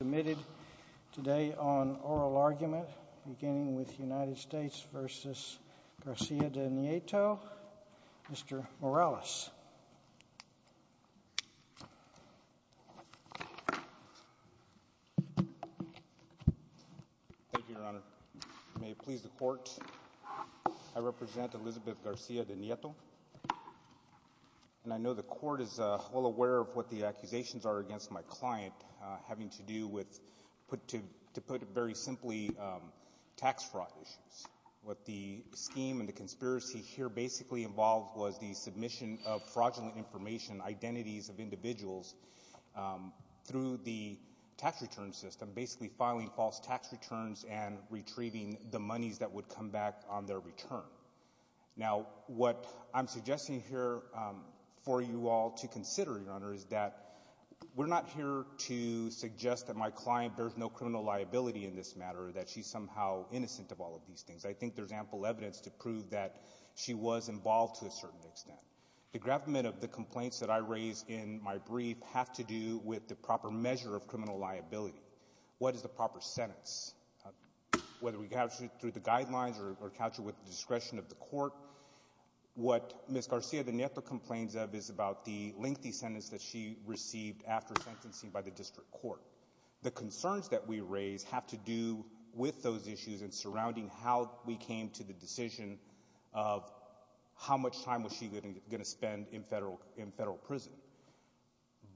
Submitted today on oral argument, beginning with United States v. Garcia De Nieto, Mr. Morales. Thank you, Your Honor. May it please the Court, I represent Elizabeth Garcia De Nieto. And I know the Court is well aware of what the accusations are against my client, having to do with, to put it very simply, tax fraud issues. What the scheme and the conspiracy here basically involved was the submission of fraudulent information, identities of individuals, through the tax return system, basically filing false tax returns and retrieving the monies that would come back on their return. Now, what I'm suggesting here for you all to consider, Your Honor, is that we're not here to suggest that my client bears no criminal liability in this matter, that she's somehow innocent of all of these things. I think there's ample evidence to prove that she was involved to a certain extent. The gravamen of the complaints that I raise in my brief have to do with the proper measure of criminal liability. What is the proper sentence? Whether we capture it through the guidelines or capture it with the discretion of the Court, what Ms. Garcia De Nieto complains of is about the lengthy sentence that she received after sentencing by the district court. The concerns that we raise have to do with those issues and surrounding how we came to the decision of how much time was she going to spend in federal prison.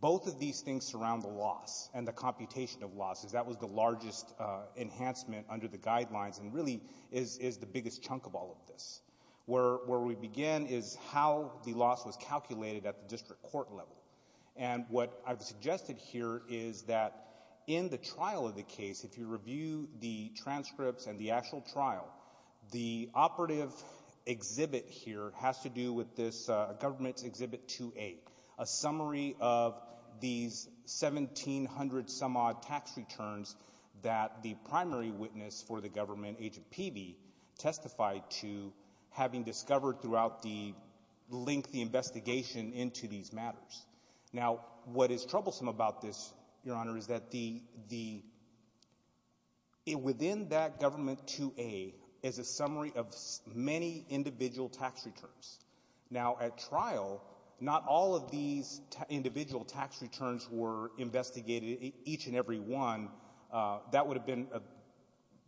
Both of these things surround the loss and the computation of losses. That was the largest enhancement under the guidelines and really is the biggest chunk of all of this. Where we begin is how the loss was calculated at the district court level. And what I've suggested here is that in the trial of the case, if you review the transcripts and the actual trial, the operative exhibit here has to do with this government's Exhibit 2A, a summary of these 1,700-some-odd tax returns that the primary witness for the government, Agent Peavey, testified to having discovered throughout the lengthy investigation into these matters. Now, what is troublesome about this, Your Honor, is that the — within that government 2A is a summary of many individual tax returns. Now, at trial, not all of these individual tax returns were investigated, each and every one. That would have been a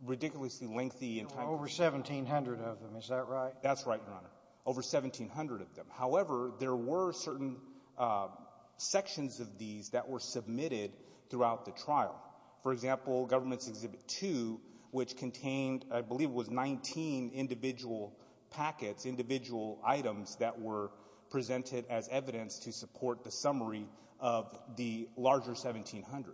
ridiculously lengthy — Over 1,700 of them. Is that right? That's right, Your Honor. Over 1,700 of them. However, there were certain sections of these that were submitted throughout the trial. For example, government's Exhibit 2, which contained, I believe, was 19 individual packets, individual items that were presented as evidence to support the summary of the larger 1,700.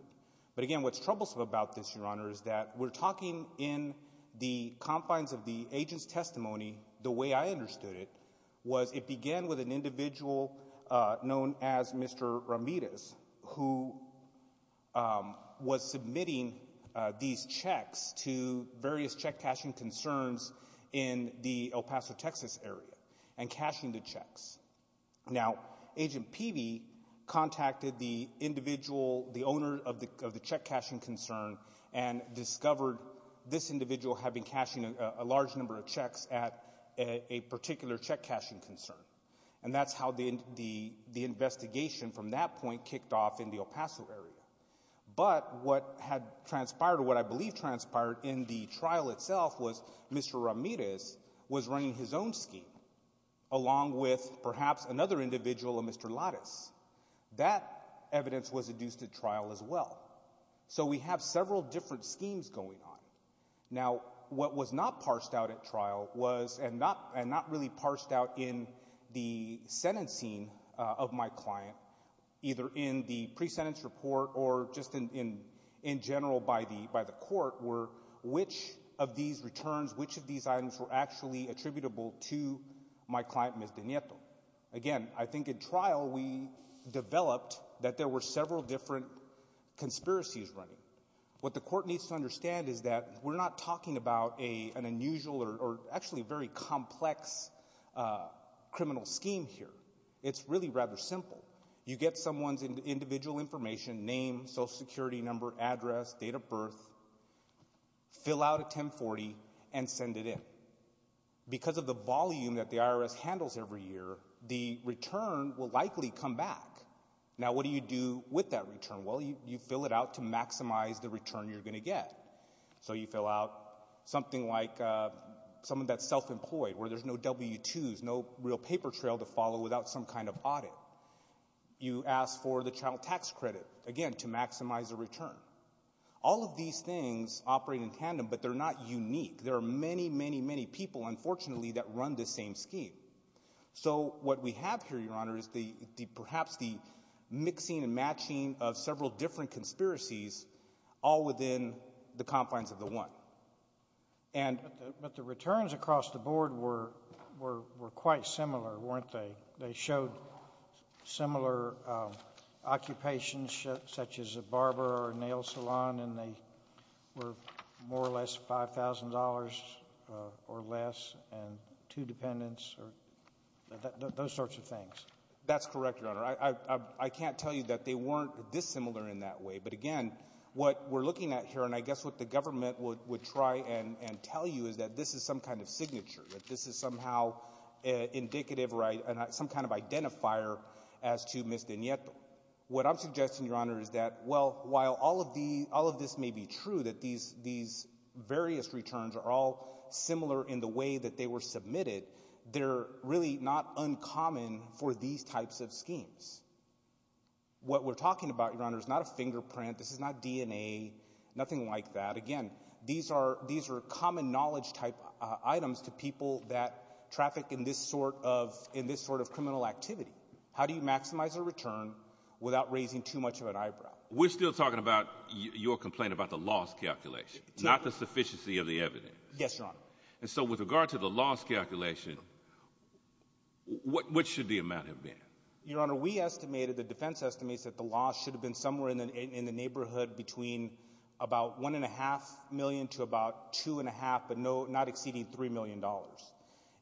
But again, what's troublesome about this, Your Honor, is that we're talking in the confines of the agent's testimony, the way I understood it, was it began with an individual known as Mr. Ramirez, who was submitting these checks to various check-cashing concerns in the El Paso, Texas, area and cashing the checks. Now, Agent Peavey contacted the individual, the owner of the check-cashing concern, and discovered this individual had been cashing a large number of checks at a particular check-cashing concern. And that's how the investigation from that point kicked off in the El Paso area. But what had transpired, or what I believe transpired, in the trial itself was Mr. Ramirez was running his own scheme, along with perhaps another individual, a Mr. Lattis. That evidence was adduced at trial as well. So we have several different schemes going on. Now, what was not parsed out at trial was, and not really parsed out in the sentencing of my client, either in the pre-sentence report or just in general by the court, were which of these returns, which of these items were actually attributable to my client, Ms. De Nieto. And again, I think at trial we developed that there were several different conspiracies running. What the court needs to understand is that we're not talking about an unusual or actually very complex criminal scheme here. It's really rather simple. You get someone's individual information, name, Social Security number, address, date of birth, fill out a 1040, and send it in. Because of the volume that the IRS handles every year, the return will likely come back. Now, what do you do with that return? Well, you fill it out to maximize the return you're going to get. So you fill out something like someone that's self-employed, where there's no W-2s, no real paper trail to follow without some kind of audit. You ask for the child tax credit, again, to maximize the return. All of these things operate in tandem, but they're not unique. There are many, many, many people, unfortunately, that run the same scheme. So what we have here, Your Honor, is perhaps the mixing and matching of several different conspiracies all within the confines of the one. And — But the returns across the board were quite similar, weren't they? They showed similar occupations, such as a barber or a nail salon, and they were more or less $5,000 or less, and two dependents or those sorts of things. That's correct, Your Honor. I can't tell you that they weren't this similar in that way. But again, what we're looking at here, and I guess what the government would try and tell you, is that this is some kind of signature, that this is somehow indicative or some kind of identifier as to Ms. DeNieto. What I'm suggesting, Your Honor, is that, well, while all of this may be true, that these various returns are all similar in the way that they were submitted, they're really not uncommon for these types of schemes. What we're talking about, Your Honor, is not a fingerprint. This is not DNA, nothing like that. But again, these are common knowledge-type items to people that traffic in this sort of criminal activity. How do you maximize a return without raising too much of an eyebrow? We're still talking about your complaint about the loss calculation, not the sufficiency of the evidence. Yes, Your Honor. And so with regard to the loss calculation, what should the amount have been? Your Honor, we estimated, the defense estimates, that the loss should have been somewhere in the neighborhood between about $1.5 million to about $2.5, but not exceeding $3 million.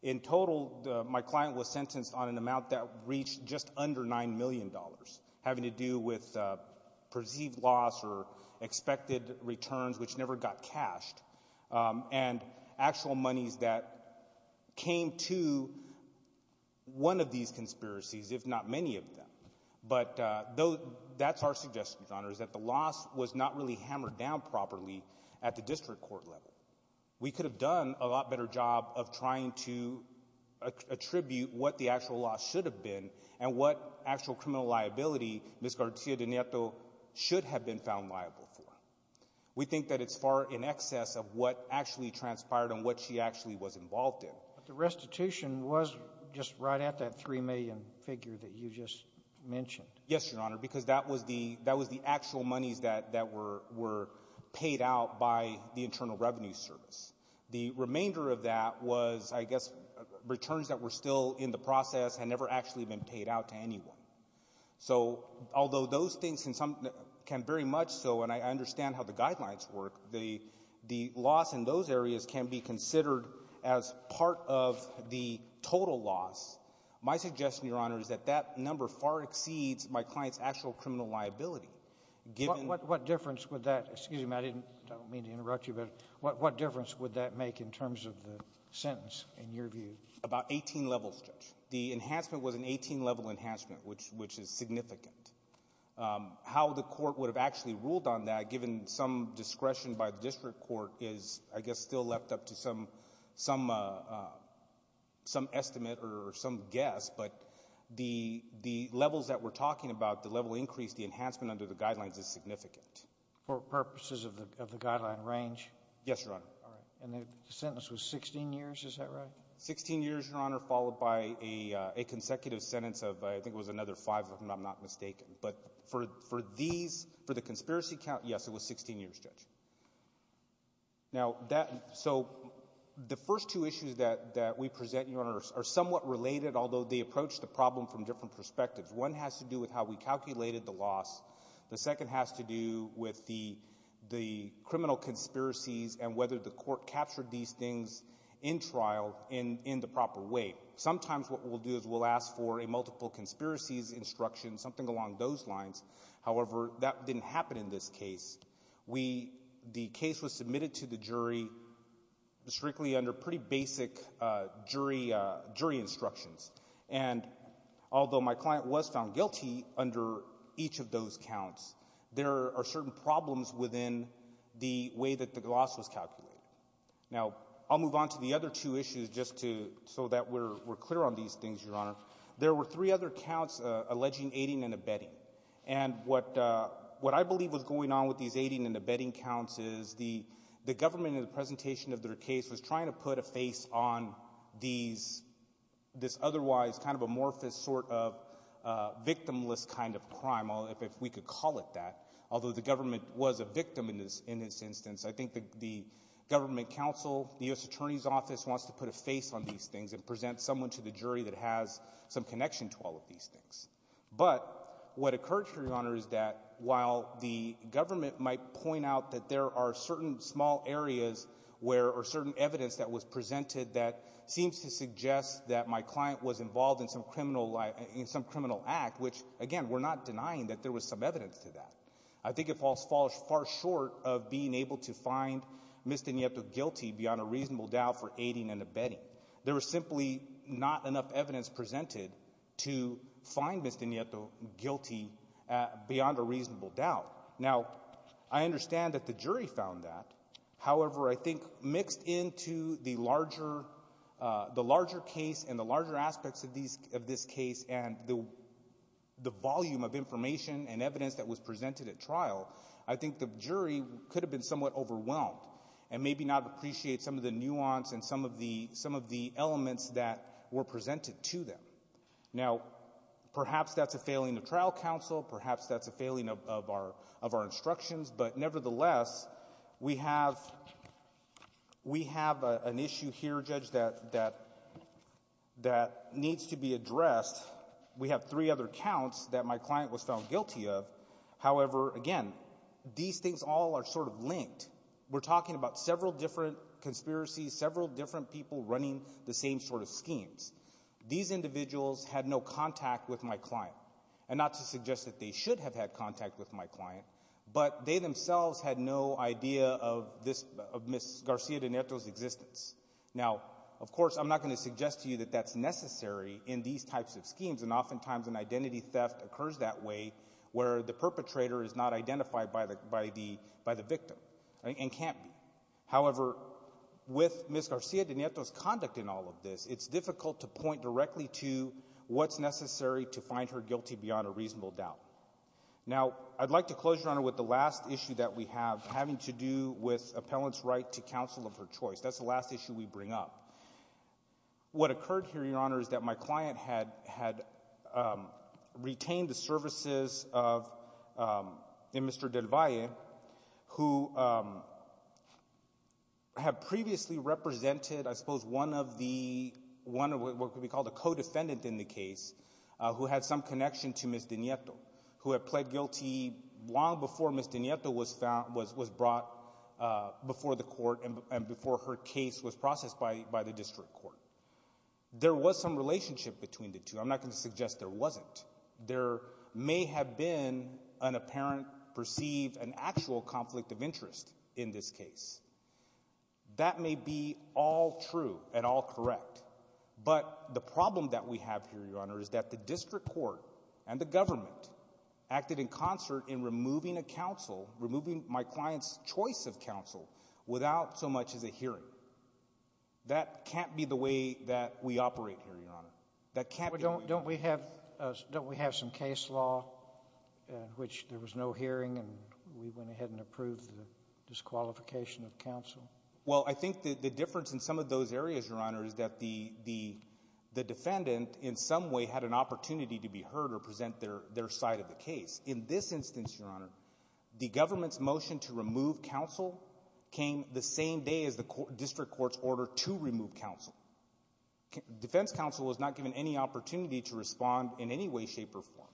In total, my client was sentenced on an amount that reached just under $9 million, having to do with perceived loss or expected returns, which never got cashed, and actual monies that came to one of these conspiracies, if not many of them. But that's our suggestion, Your Honor, is that the loss was not really hammered down properly at the district court level. We could have done a lot better job of trying to attribute what the actual loss should have been and what actual criminal liability Ms. Garcia de Nieto should have been found liable for. We think that it's far in excess of what actually transpired and what she actually was involved in. But the restitution was just right at that $3 million figure that you just mentioned. Yes, Your Honor, because that was the actual monies that were paid out by the Internal Revenue Service. The remainder of that was, I guess, returns that were still in the process and never actually been paid out to anyone. So although those things can very much so, and I understand how the guidelines work, the loss in those areas can be considered as part of the total loss. My suggestion, Your Honor, is that that number far exceeds my client's actual criminal liability. What difference would that make in terms of the sentence, in your view? About 18 levels, Judge. The enhancement was an 18-level enhancement, which is significant. How the court would have actually ruled on that, given some discretion by the district court, is, I guess, still left up to some estimate or some guess. But the levels that we're talking about, the level increase, the enhancement under the guidelines is significant. For purposes of the guideline range? Yes, Your Honor. And the sentence was 16 years, is that right? 16 years, Your Honor, followed by a consecutive sentence of, I think it was another five, if I'm not mistaken. But for these, for the conspiracy count, yes, it was 16 years, Judge. Now, so the first two issues that we present, Your Honor, are somewhat related, although they approach the problem from different perspectives. One has to do with how we calculated the loss. The second has to do with the criminal conspiracies and whether the court captured these things in trial in the proper way. Sometimes what we'll do is we'll ask for a multiple conspiracies instruction, something along those lines. However, that didn't happen in this case. The case was submitted to the jury strictly under pretty basic jury instructions. And although my client was found guilty under each of those counts, there are certain problems within the way that the loss was calculated. Now, I'll move on to the other two issues just to so that we're clear on these things, Your Honor. There were three other counts, alleging aiding and abetting. And what I believe was going on with these aiding and abetting counts is the government in the presentation of their case was trying to put a face on this otherwise kind of amorphous sort of victimless kind of crime, if we could call it that, although the government was a victim in this instance. I think the government counsel, the U.S. Attorney's Office, wants to put a face on these things and present someone to the jury that has some connection to all of these things. But what occurred, Your Honor, is that while the government might point out that there are certain small areas where — or certain evidence that was presented that seems to suggest that my client was involved in some criminal act, which, again, we're not denying that there was some evidence to that. I think it falls far short of being able to find Mr. Nieto guilty beyond a reasonable doubt for aiding and abetting. There was simply not enough evidence presented to find Mr. Nieto guilty beyond a reasonable doubt. Now, I understand that the jury found that. However, I think mixed into the larger case and the larger aspects of this case and the volume of information and evidence that was presented at trial, I think the jury could have been somewhat overwhelmed and maybe not appreciate some of the nuance and some of the elements that were presented to them. Now, perhaps that's a failing of trial counsel. Perhaps that's a failing of our instructions. But nevertheless, we have an issue here, Judge, that needs to be addressed. We have three other counts that my client was found guilty of. And we're talking about several different conspiracies, several different people running the same sort of schemes. These individuals had no contact with my client. And not to suggest that they should have had contact with my client, but they themselves had no idea of Ms. Garcia de Nieto's existence. Now, of course, I'm not going to suggest to you that that's necessary in these types of schemes, and oftentimes an identity theft occurs that way where the perpetrator is not identified by the victim and can't be. However, with Ms. Garcia de Nieto's conduct in all of this, it's difficult to point directly to what's necessary to find her guilty beyond a reasonable doubt. Now, I'd like to close, Your Honor, with the last issue that we have, having to do with appellant's right to counsel of her choice. That's the last issue we bring up. What occurred here, Your Honor, is that my client had retained the services of Mr. Del Valle, who had previously represented, I suppose, one of the co-defendants in the case who had some connection to Ms. de Nieto, who had pled guilty long before Ms. de Nieto was brought before the court and before her case was processed by the district court. There was some relationship between the two. I'm not going to suggest there wasn't. There may have been an apparent perceived and actual conflict of interest in this case. That may be all true and all correct, but the problem that we have here, Your Honor, is that the district court and the government acted in concert in removing a counsel, without so much as a hearing. That can't be the way that we operate here, Your Honor. That can't be the way. But don't we have some case law in which there was no hearing and we went ahead and approved the disqualification of counsel? Well, I think the difference in some of those areas, Your Honor, is that the defendant in some way had an opportunity to be heard or present their side of the case. In this instance, Your Honor, the government's motion to remove counsel came the same day as the district court's order to remove counsel. Defense counsel was not given any opportunity to respond in any way, shape, or form.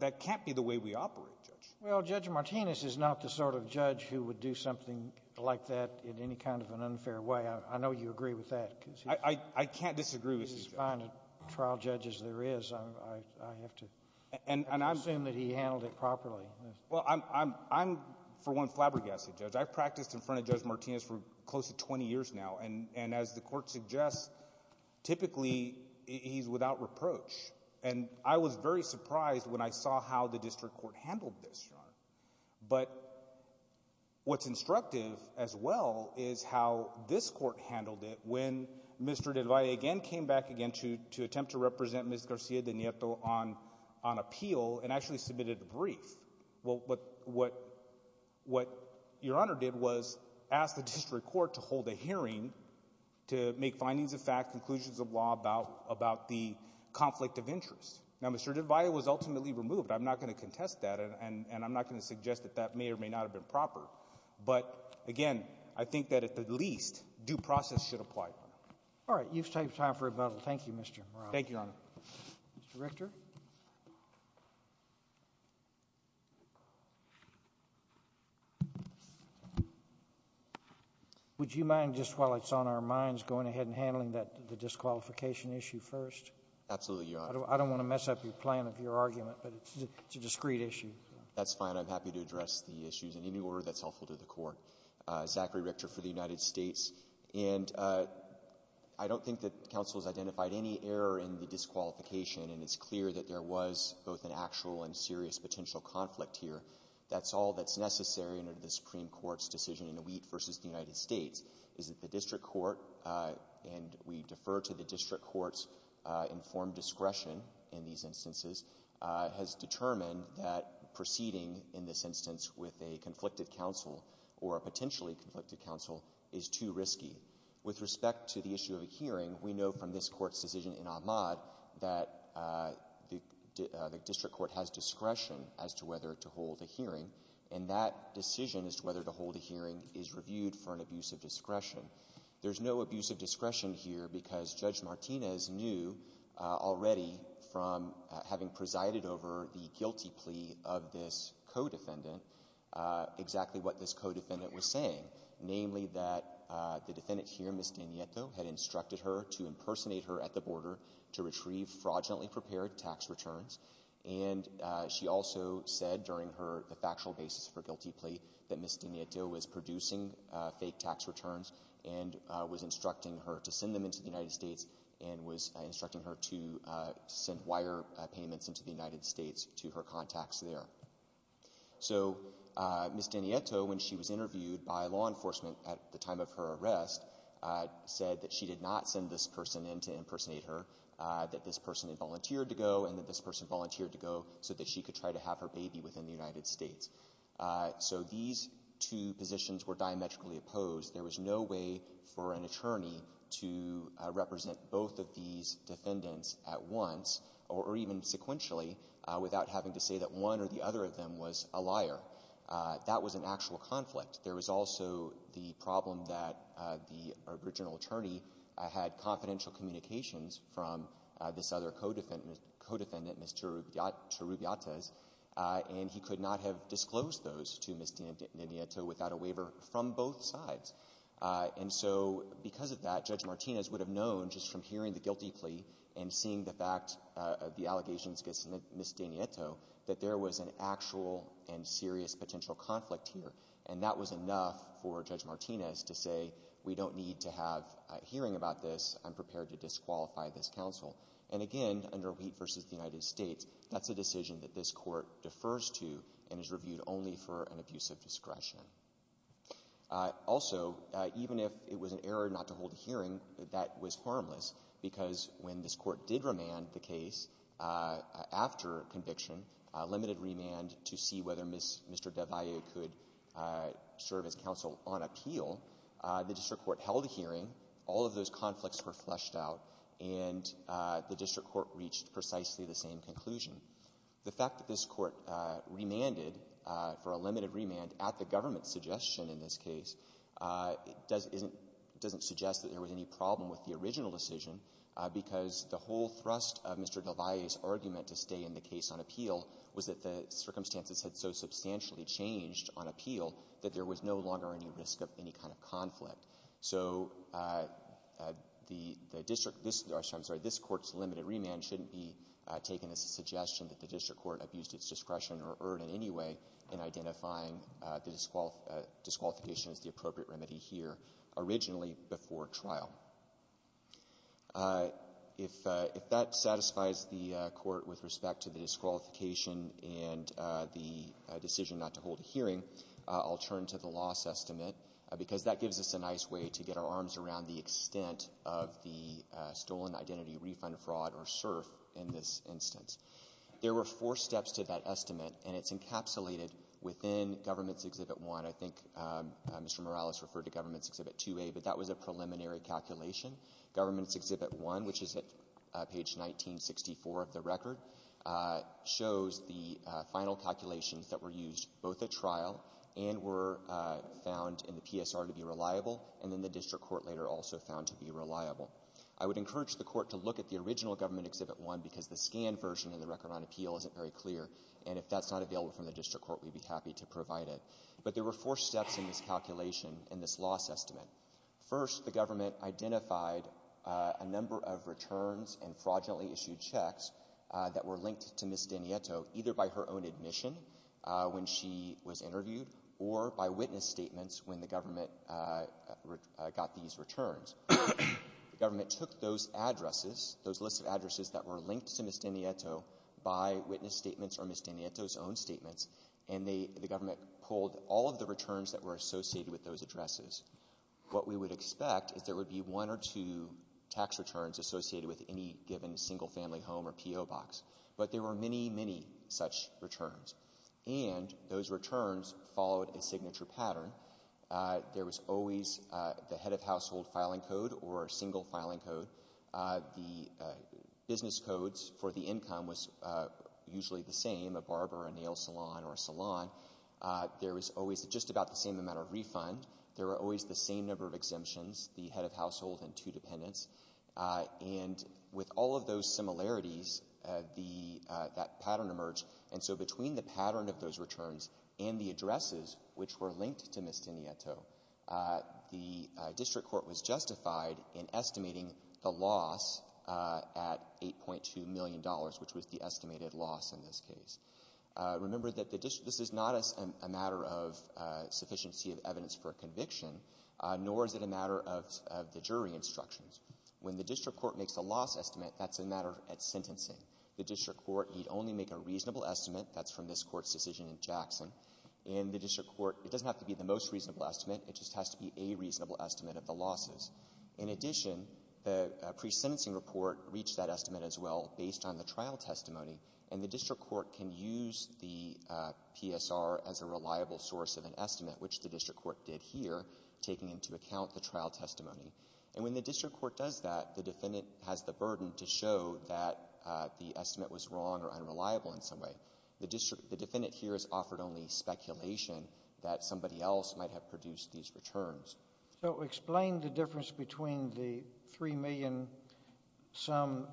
That can't be the way we operate, Judge. Well, Judge Martinez is not the sort of judge who would do something like that in any kind of an unfair way. I know you agree with that. I can't disagree with you, Judge. He's as fine a trial judge as there is. I have to assume that he handled it properly. Well, I'm, for one, flabbergasted, Judge. I've practiced in front of Judge Martinez for close to 20 years now, and as the Court suggests, typically he's without reproach. And I was very surprised when I saw how the district court handled this, Your Honor. But what's instructive as well is how this court handled it when Mr. De Valle again came back again to attempt to represent Ms. Garcia-De Nieto on appeal and actually submitted a brief. What Your Honor did was ask the district court to hold a hearing to make findings of fact, conclusions of law about the conflict of interest. Now, Mr. De Valle was ultimately removed. I'm not going to contest that, and I'm not going to suggest that that may or may not have been proper. But, again, I think that at the least due process should apply. All right. You've saved time for rebuttal. Thank you, Mr. Morales. Thank you, Your Honor. Mr. Richter. Would you mind just while it's on our minds going ahead and handling the disqualification issue first? Absolutely, Your Honor. I don't want to mess up the plan of your argument, but it's a discrete issue. That's fine. I'm happy to address the issues in any order that's helpful to the Court. Zachary Richter for the United States. And I don't think that counsel has identified any error in the disqualification, and it's clear that there was both an actual and serious potential conflict here. That's all that's necessary under the Supreme Court's decision in Wheat v. the United States, is that the district court, and we defer to the district court's informed discretion in these instances, has determined that proceeding in this instance with a conflicted counsel or a potentially conflicted counsel is too risky. With respect to the issue of a hearing, we know from this court's decision in Ahmaud that the district court has discretion as to whether to hold a hearing, and that decision as to whether to hold a hearing is reviewed for an abuse of discretion. There's no abuse of discretion here because Judge Martinez knew already from having presided over the guilty plea of this co-defendant exactly what this co-defendant was saying, namely that the defendant here, Ms. DiNieto, had instructed her to impersonate her at the border to retrieve fraudulently prepared tax returns. And she also said during her factual basis for guilty plea that Ms. DiNieto was producing fake tax returns. And was instructing her to send them into the United States and was instructing her to send wire payments into the United States to her contacts there. So Ms. DiNieto, when she was interviewed by law enforcement at the time of her arrest, said that she did not send this person in to impersonate her, that this person had volunteered to go and that this person volunteered to go so that she could try to have her baby within the United States. So these two positions were diametrically opposed. There was no way for an attorney to represent both of these defendants at once or even sequentially without having to say that one or the other of them was a liar. That was an actual conflict. There was also the problem that the original attorney had confidential communications from this other co-defendant, Ms. Chirubiates, and he could not have disclosed those to Ms. DiNieto without a waiver from both sides. And so because of that, Judge Martinez would have known just from hearing the guilty plea and seeing the fact of the allegations against Ms. DiNieto that there was an actual and serious potential conflict here. And that was enough for Judge Martinez to say we don't need to have a hearing about this. I'm prepared to disqualify this counsel. And again, under Wheat v. the United States, that's a decision that this court defers to and is reviewed only for an abuse of discretion. Also, even if it was an error not to hold a hearing, that was harmless, because when this Court did remand the case after conviction, limited remand to see whether Mr. Devalle could serve as counsel on appeal, the district court held a hearing, all of those conflicts were fleshed out, and the district court reached precisely the same conclusion. The fact that this Court remanded for a limited remand at the government's suggestion in this case doesn't suggest that there was any problem with the original decision, because the whole thrust of Mr. Devalle's argument to stay in the case on appeal was that the circumstances had so substantially changed on appeal that there was no longer any risk of any kind of conflict. So the district — I'm sorry, this Court's limited remand shouldn't be taken as a suggestion that the district court abused its discretion or erred in any way in identifying the disqualification as the appropriate remedy here originally before trial. If that satisfies the Court with respect to the disqualification and the decision not to hold a hearing, I'll turn to the loss estimate, because that gives us a nice way to get our arms around the extent of the stolen identity refund fraud or SIRF in this instance. There were four steps to that estimate, and it's encapsulated within Government's Exhibit 1. I think Mr. Morales referred to Government's Exhibit 2A, but that was a preliminary calculation. Government's Exhibit 1, which is at page 1964 of the record, shows the final calculations that were used both at trial and were found in the PSR to be reliable, and then the district court later also found to be reliable. I would encourage the Court to look at the original Government Exhibit 1, because the scanned version of the Record on Appeal isn't very clear, and if that's not available from the district court, we'd be happy to provide it. But there were four steps in this calculation, in this loss estimate. First, the Government identified a number of returns and fraudulently issued checks that were linked to Ms. Danieto either by her own admission when she was interviewed or by witness statements when the Government got these returns. The Government took those addresses, those lists of addresses that were linked to Ms. Danieto by witness statements or Ms. Danieto's own statements, and the Government pulled all of the returns that were associated with those addresses. What we would expect is there would be one or two tax returns associated with any given single-family home or PO box, but there were many, many such returns, and those returns followed a signature pattern. There was always the head of household filing code or a single filing code. The business codes for the income was usually the same, a barber, a nail salon, or a salon. There was always just about the same amount of refund. There were always the same number of exemptions, the head of household and two dependents. And with all of those similarities, that pattern emerged. And so between the pattern of those returns and the addresses which were linked to Ms. Danieto, the district court was justified in estimating the loss at $8.2 million, which was the estimated loss in this case. Remember that the district — this is not a matter of sufficiency of evidence for a conviction, nor is it a matter of the jury instructions. When the district court makes a loss estimate, that's a matter at sentencing. The district court need only make a reasonable estimate. That's from this Court's decision in Jackson. In the district court, it doesn't have to be the most reasonable estimate. It just has to be a reasonable estimate of the losses. In addition, the pre-sentencing report reached that estimate as well based on the trial testimony. And the district court can use the PSR as a reliable source of an estimate, which the district court did here, taking into account the trial testimony. And when the district court does that, the defendant has the burden to show that the estimate was wrong or unreliable in some way. The district — the defendant here has offered only speculation that somebody else might have produced these returns. So explain the difference between the $3 million sum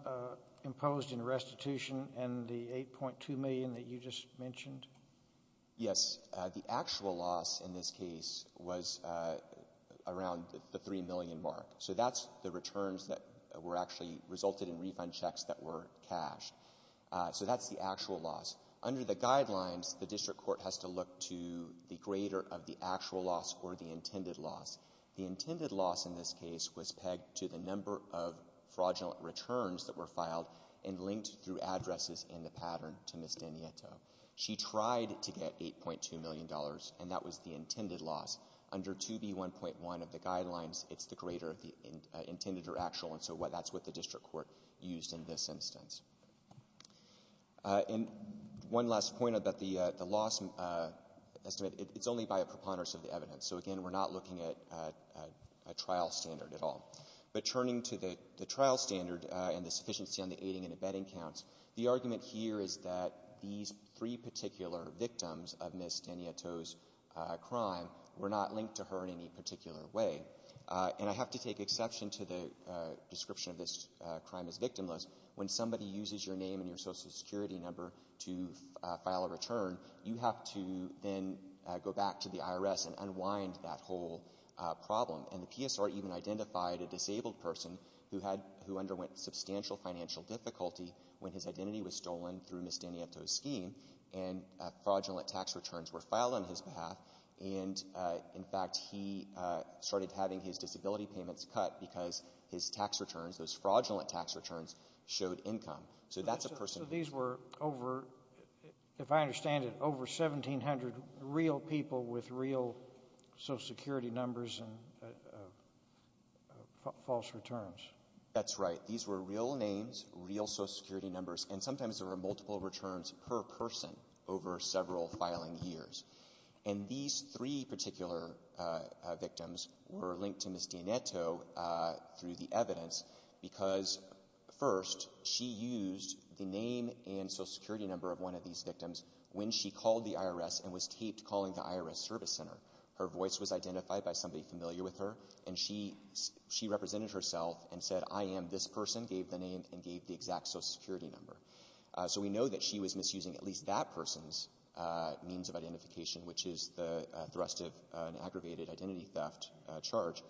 imposed in restitution and the $8.2 million that you just mentioned. Yes. The actual loss in this case was around the $3 million mark. So that's the returns that were actually resulted in refund checks that were cashed. So that's the actual loss. Under the guidelines, the district court has to look to the grader of the actual loss or the intended loss. The intended loss in this case was pegged to the number of fraudulent returns that were filed and linked through addresses in the pattern to Ms. Danieto. She tried to get $8.2 million, and that was the intended loss. Under 2B1.1 of the guidelines, it's the grader of the intended or actual. And so that's what the district court used in this instance. And one last point about the loss estimate, it's only by a preponderance of the evidence. So, again, we're not looking at a trial standard at all. But turning to the trial standard and the sufficiency on the aiding and abetting counts, the argument here is that these three particular victims of Ms. Danieto's crime were not linked to her in any particular way. And I have to take exception to the description of this crime as victimless. When somebody uses your name and your Social Security number to file a return, you have to then go back to the IRS and unwind that whole problem. And the PSR even identified a disabled person who had – who underwent substantial financial difficulty when his identity was stolen through Ms. Danieto's scheme, and fraudulent tax returns were filed on his behalf. And, in fact, he started having his disability payments cut because his tax returns, those fraudulent tax returns, showed income. So that's a person – So these were over – if I understand it, over 1,700 real people with real Social Security numbers and false returns. That's right. These were real names, real Social Security numbers, and sometimes there were multiple returns per person over several filing years. And these three particular victims were linked to Ms. Danieto through the evidence because, first, she used the name and Social Security number of one of these victims when she called the IRS and was taped calling the IRS Service Center. Her voice was identified by somebody familiar with her, and she represented herself and said, I am this person, gave the name, and gave the exact Social Security number. So we know that she was misusing at least that person's means of identification, which is the thrust of an aggravated identity theft charge.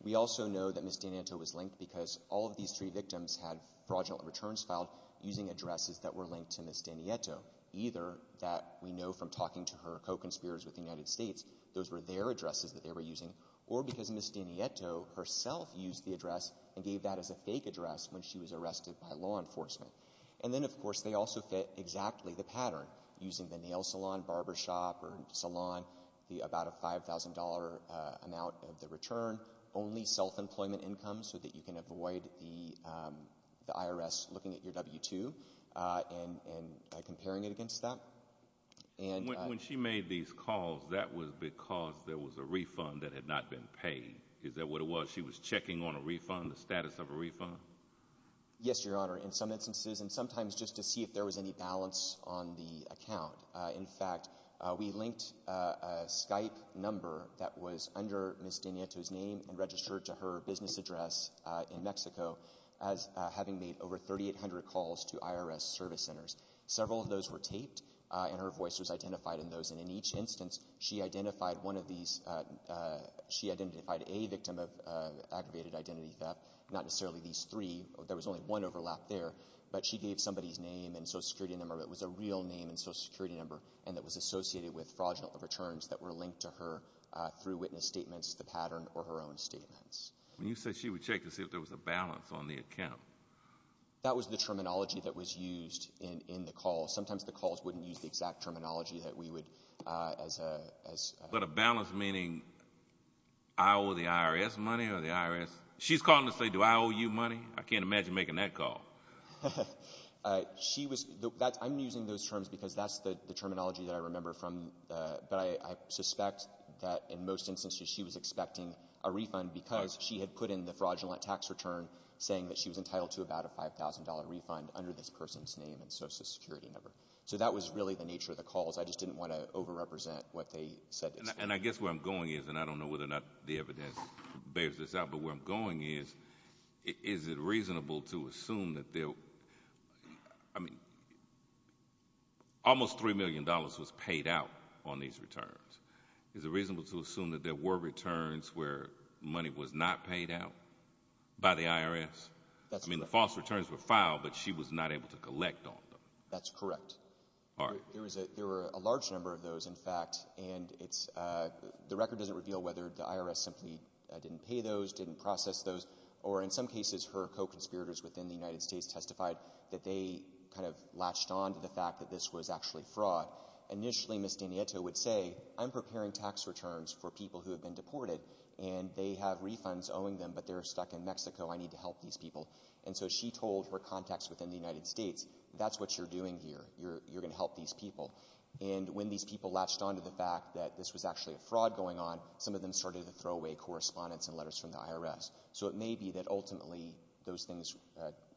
We also know that Ms. Danieto was linked because all of these three victims had fraudulent returns filed using addresses that were linked to Ms. Danieto, either that we know from talking to her co-conspirators with the United States, those were their addresses that they were using, or because Ms. Danieto herself used the address and gave that as a fake address when she was arrested by law enforcement. And then, of course, they also fit exactly the pattern, using the nail salon, barber shop, or salon, about a $5,000 amount of the return, only self-employment income so that you can avoid the IRS looking at your W-2 and comparing it against that. When she made these calls, that was because there was a refund that had not been paid. Is that what it was? She was checking on a refund, the status of a refund? Yes, Your Honor, in some instances, and sometimes just to see if there was any balance on the account. In fact, we linked a Skype number that was under Ms. Danieto's name and registered to her business address in Mexico, having made over 3,800 calls to IRS service centers. Several of those were taped, and her voice was identified in those. And in each instance, she identified a victim of aggravated identity theft, not necessarily these three, there was only one overlap there, but she gave somebody's name and Social Security number, but it was a real name and Social Security number, and it was associated with fraudulent returns that were linked to her through witness statements, the pattern, or her own statements. You said she would check to see if there was a balance on the account. That was the terminology that was used in the call. Sometimes the calls wouldn't use the exact terminology that we would as a— But a balance meaning, I owe the IRS money or the IRS— she's calling to say, Do I owe you money? I can't imagine making that call. I'm using those terms because that's the terminology that I remember from— I suspect that in most instances she was expecting a refund because she had put in the fraudulent tax return saying that she was entitled to about a $5,000 refund under this person's name and Social Security number. So that was really the nature of the calls. I just didn't want to overrepresent what they said. And I guess where I'm going is, and I don't know whether or not the evidence bears this out, but where I'm going is, is it reasonable to assume that there— I mean, almost $3 million was paid out on these returns. Is it reasonable to assume that there were returns where money was not paid out by the IRS? I mean, the false returns were filed, but she was not able to collect on them. That's correct. All right. There were a large number of those, in fact, and the record doesn't reveal whether the IRS simply didn't pay those, didn't process those, or in some cases her co-conspirators within the United States testified that they kind of latched on to the fact that this was actually fraud. Initially, Ms. Danieta would say, I'm preparing tax returns for people who have been deported and they have refunds owing them, but they're stuck in Mexico. I need to help these people. And so she told her contacts within the United States, that's what you're doing here. You're going to help these people. And when these people latched on to the fact that this was actually a fraud going on, some of them started to throw away correspondence and letters from the IRS. So it may be that ultimately those things,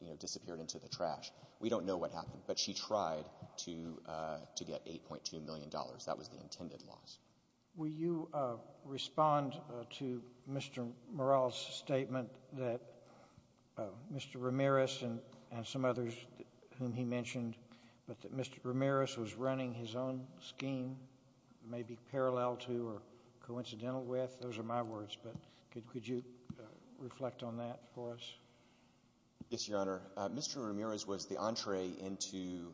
you know, disappeared into the trash. We don't know what happened, but she tried to get $8.2 million. That was the intended loss. Will you respond to Mr. Morrell's statement that Mr. Ramirez and some others whom he mentioned, but that Mr. Ramirez was running his own scheme, maybe parallel to or coincidental with? Those are my words, but could you reflect on that for us? Yes, Your Honor. Mr. Ramirez was the entree into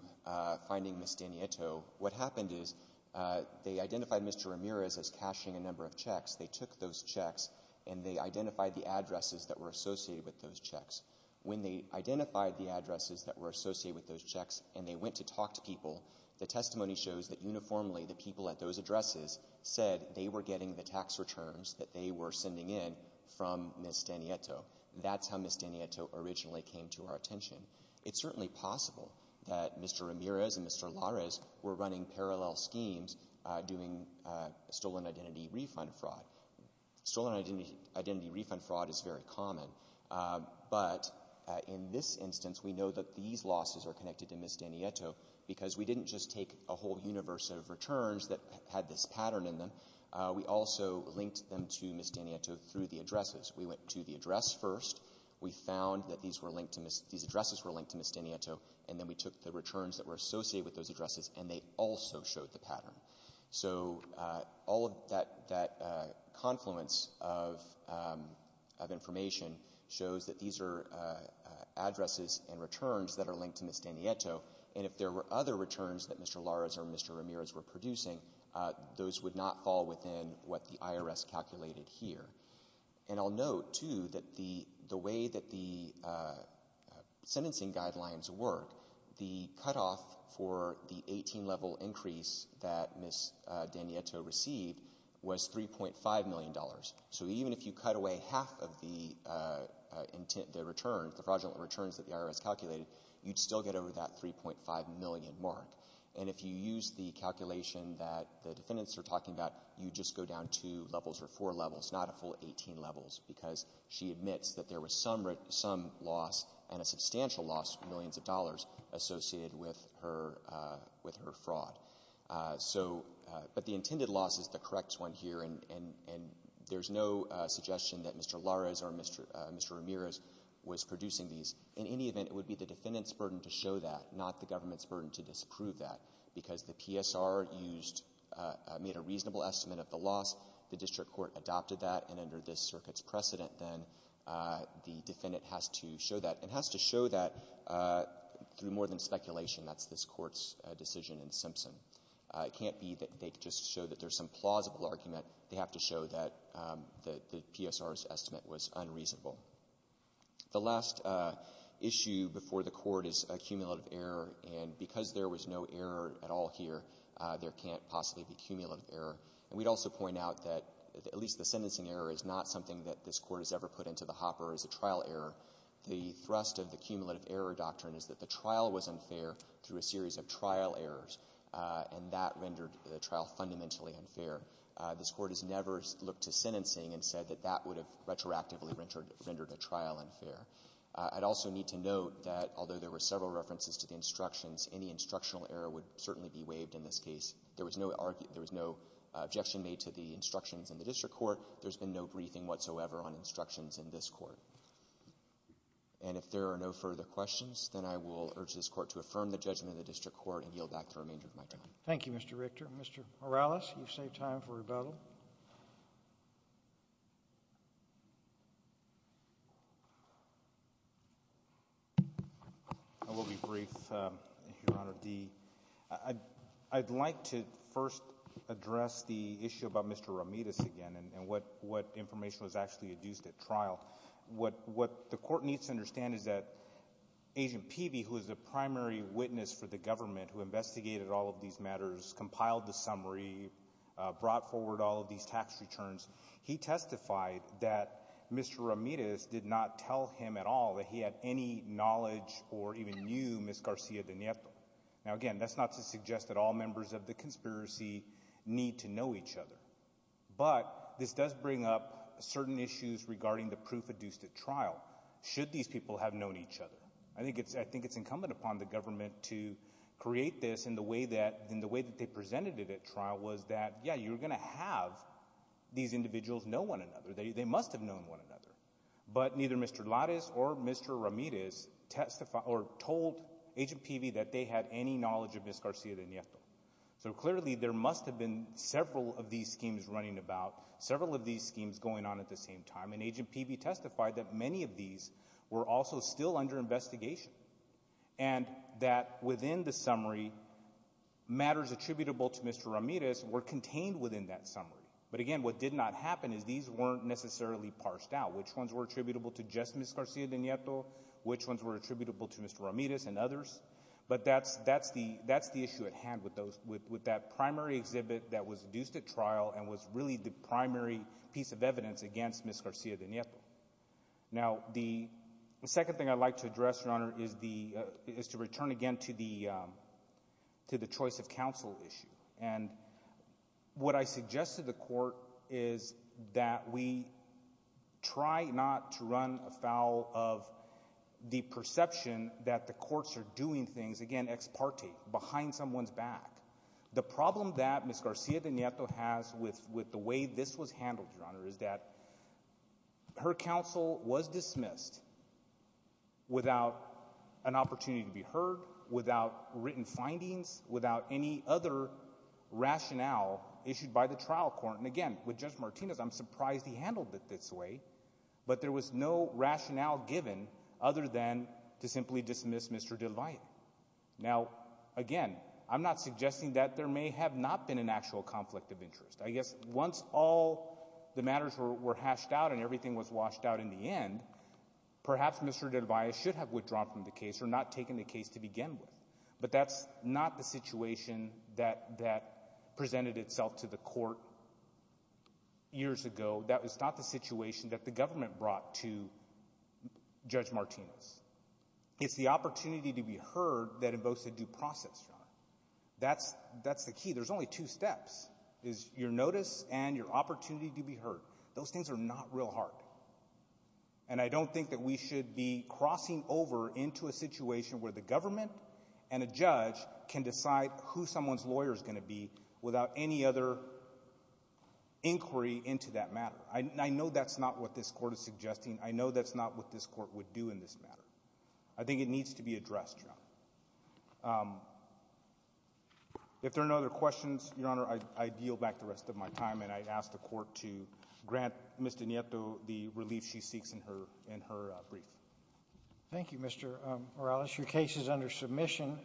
finding Ms. Danieta. What happened is they identified Mr. Ramirez as cashing a number of checks. They took those checks and they identified the addresses that were associated with those checks. When they identified the addresses that were associated with those checks and they went to talk to people, the testimony shows that uniformly the people at those addresses said they were getting the tax returns that they were sending in from Ms. Danieta. That's how Ms. Danieta originally came to our attention. It's certainly possible that Mr. Ramirez and Mr. Larez were running parallel schemes doing stolen identity refund fraud. Stolen identity refund fraud is very common, but in this instance we know that these losses are connected to Ms. Danieta because we didn't just take a whole universe of returns that had this pattern in them. We also linked them to Ms. Danieta through the addresses. We went to the address first. We found that these addresses were linked to Ms. Danieta, and then we took the returns that were associated with those addresses, and they also showed the pattern. So all of that confluence of information shows that these are addresses and returns that are linked to Ms. Danieta, and if there were other returns that Mr. Larez or Mr. Ramirez were producing, those would not fall within what the IRS calculated here. And I'll note, too, that the way that the sentencing guidelines work, the cutoff for the 18-level increase that Ms. Danieta received was $3.5 million. So even if you cut away half of the return, the fraudulent returns that the IRS calculated, you'd still get over that $3.5 million mark. And if you use the calculation that the defendants are talking about, you just go down two levels or four levels, not a full 18 levels, because she admits that there was some loss and a substantial loss of millions of dollars associated with her fraud. But the intended loss is the correct one here, and there's no suggestion that Mr. Larez or Mr. Ramirez was producing these. In any event, it would be the defendant's burden to show that, not the government's burden to disprove that, because the PSR used — made a reasonable estimate of the loss. The district court adopted that, and under this circuit's precedent, then the defendant has to show that. It has to show that through more than speculation. That's this Court's decision in Simpson. It can't be that they just show that there's some plausible argument. They have to show that the PSR's estimate was unreasonable. The last issue before the Court is cumulative error, and because there was no error at all here, there can't possibly be cumulative error. And we'd also point out that at least the sentencing error is not something that this Court has ever put into the hopper as a trial error. The thrust of the cumulative error doctrine is that the trial was unfair through a series of trial errors, and that rendered the trial fundamentally unfair. This Court has never looked to sentencing and said that that would have retroactively rendered a trial unfair. I'd also need to note that although there were several references to the instructions, any instructional error would certainly be waived in this case. There was no objection made to the instructions in the district court. There's been no briefing whatsoever on instructions in this Court. And if there are no further questions, then I will urge this Court to affirm the judgment of the district court and yield back the remainder of my time. Thank you, Mr. Richter. Mr. Morales, you've saved time for rebuttal. I will be brief, Your Honor. I'd like to first address the issue about Mr. Ramirez again and what information was actually adduced at trial. What the Court needs to understand is that Agent Peavy, who is the primary witness for the government who investigated all of these matters, compiled the summary, brought forward all of these tax returns, he testified that Mr. Ramirez did not tell him at all that he had any knowledge or even knew Ms. Garcia-Denieto. Now, again, that's not to suggest that all members of the conspiracy need to know each other. But this does bring up certain issues regarding the proof adduced at trial, should these people have known each other. I think it's incumbent upon the government to create this in the way that they presented it at trial was that, yeah, you're going to have these individuals know one another. They must have known one another. But neither Mr. Larez or Mr. Ramirez testified or told Agent Peavy that they had any knowledge of Ms. Garcia-Denieto. So clearly there must have been several of these schemes running about, several of these schemes going on at the same time, and Agent Peavy testified that many of these were also still under investigation and that within the summary, matters attributable to Mr. Ramirez were contained within that summary. But again, what did not happen is these weren't necessarily parsed out, which ones were attributable to just Ms. Garcia-Denieto, which ones were attributable to Mr. Ramirez and others. But that's the issue at hand with that primary exhibit that was induced at trial and was really the primary piece of evidence against Ms. Garcia-Denieto. Now, the second thing I'd like to address, Your Honor, is to return again to the choice of counsel issue. And what I suggest to the court is that we try not to run afoul of the perception that the courts are doing things, again, ex parte, behind someone's back. The problem that Ms. Garcia-Denieto has with the way this was handled, Your Honor, is that her counsel was dismissed without an opportunity to be heard, without written findings, without any other rationale issued by the trial court. And again, with Judge Martinez, I'm surprised he handled it this way. But there was no rationale given other than to simply dismiss Mr. Del Valle. Now, again, I'm not suggesting that there may have not been an actual conflict of interest. I guess once all the matters were hashed out and everything was washed out in the end, perhaps Mr. Del Valle should have withdrawn from the case or not taken the case to begin with. But that's not the situation that presented itself to the court years ago. That was not the situation that the government brought to Judge Martinez. It's the opportunity to be heard that invokes a due process, Your Honor. That's the key. There's only two steps, is your notice and your opportunity to be heard. Those things are not real hard. And I don't think that we should be crossing over into a situation where the government and a judge can decide who someone's lawyer is going to be without any other inquiry into that matter. I know that's not what this court is suggesting. I know that's not what this court would do in this matter. I think it needs to be addressed, Your Honor. If there are no other questions, Your Honor, I yield back the rest of my time and I ask the court to grant Ms. De Nieto the relief she seeks in her brief. Thank you, Mr. Morales. Your case is under submission.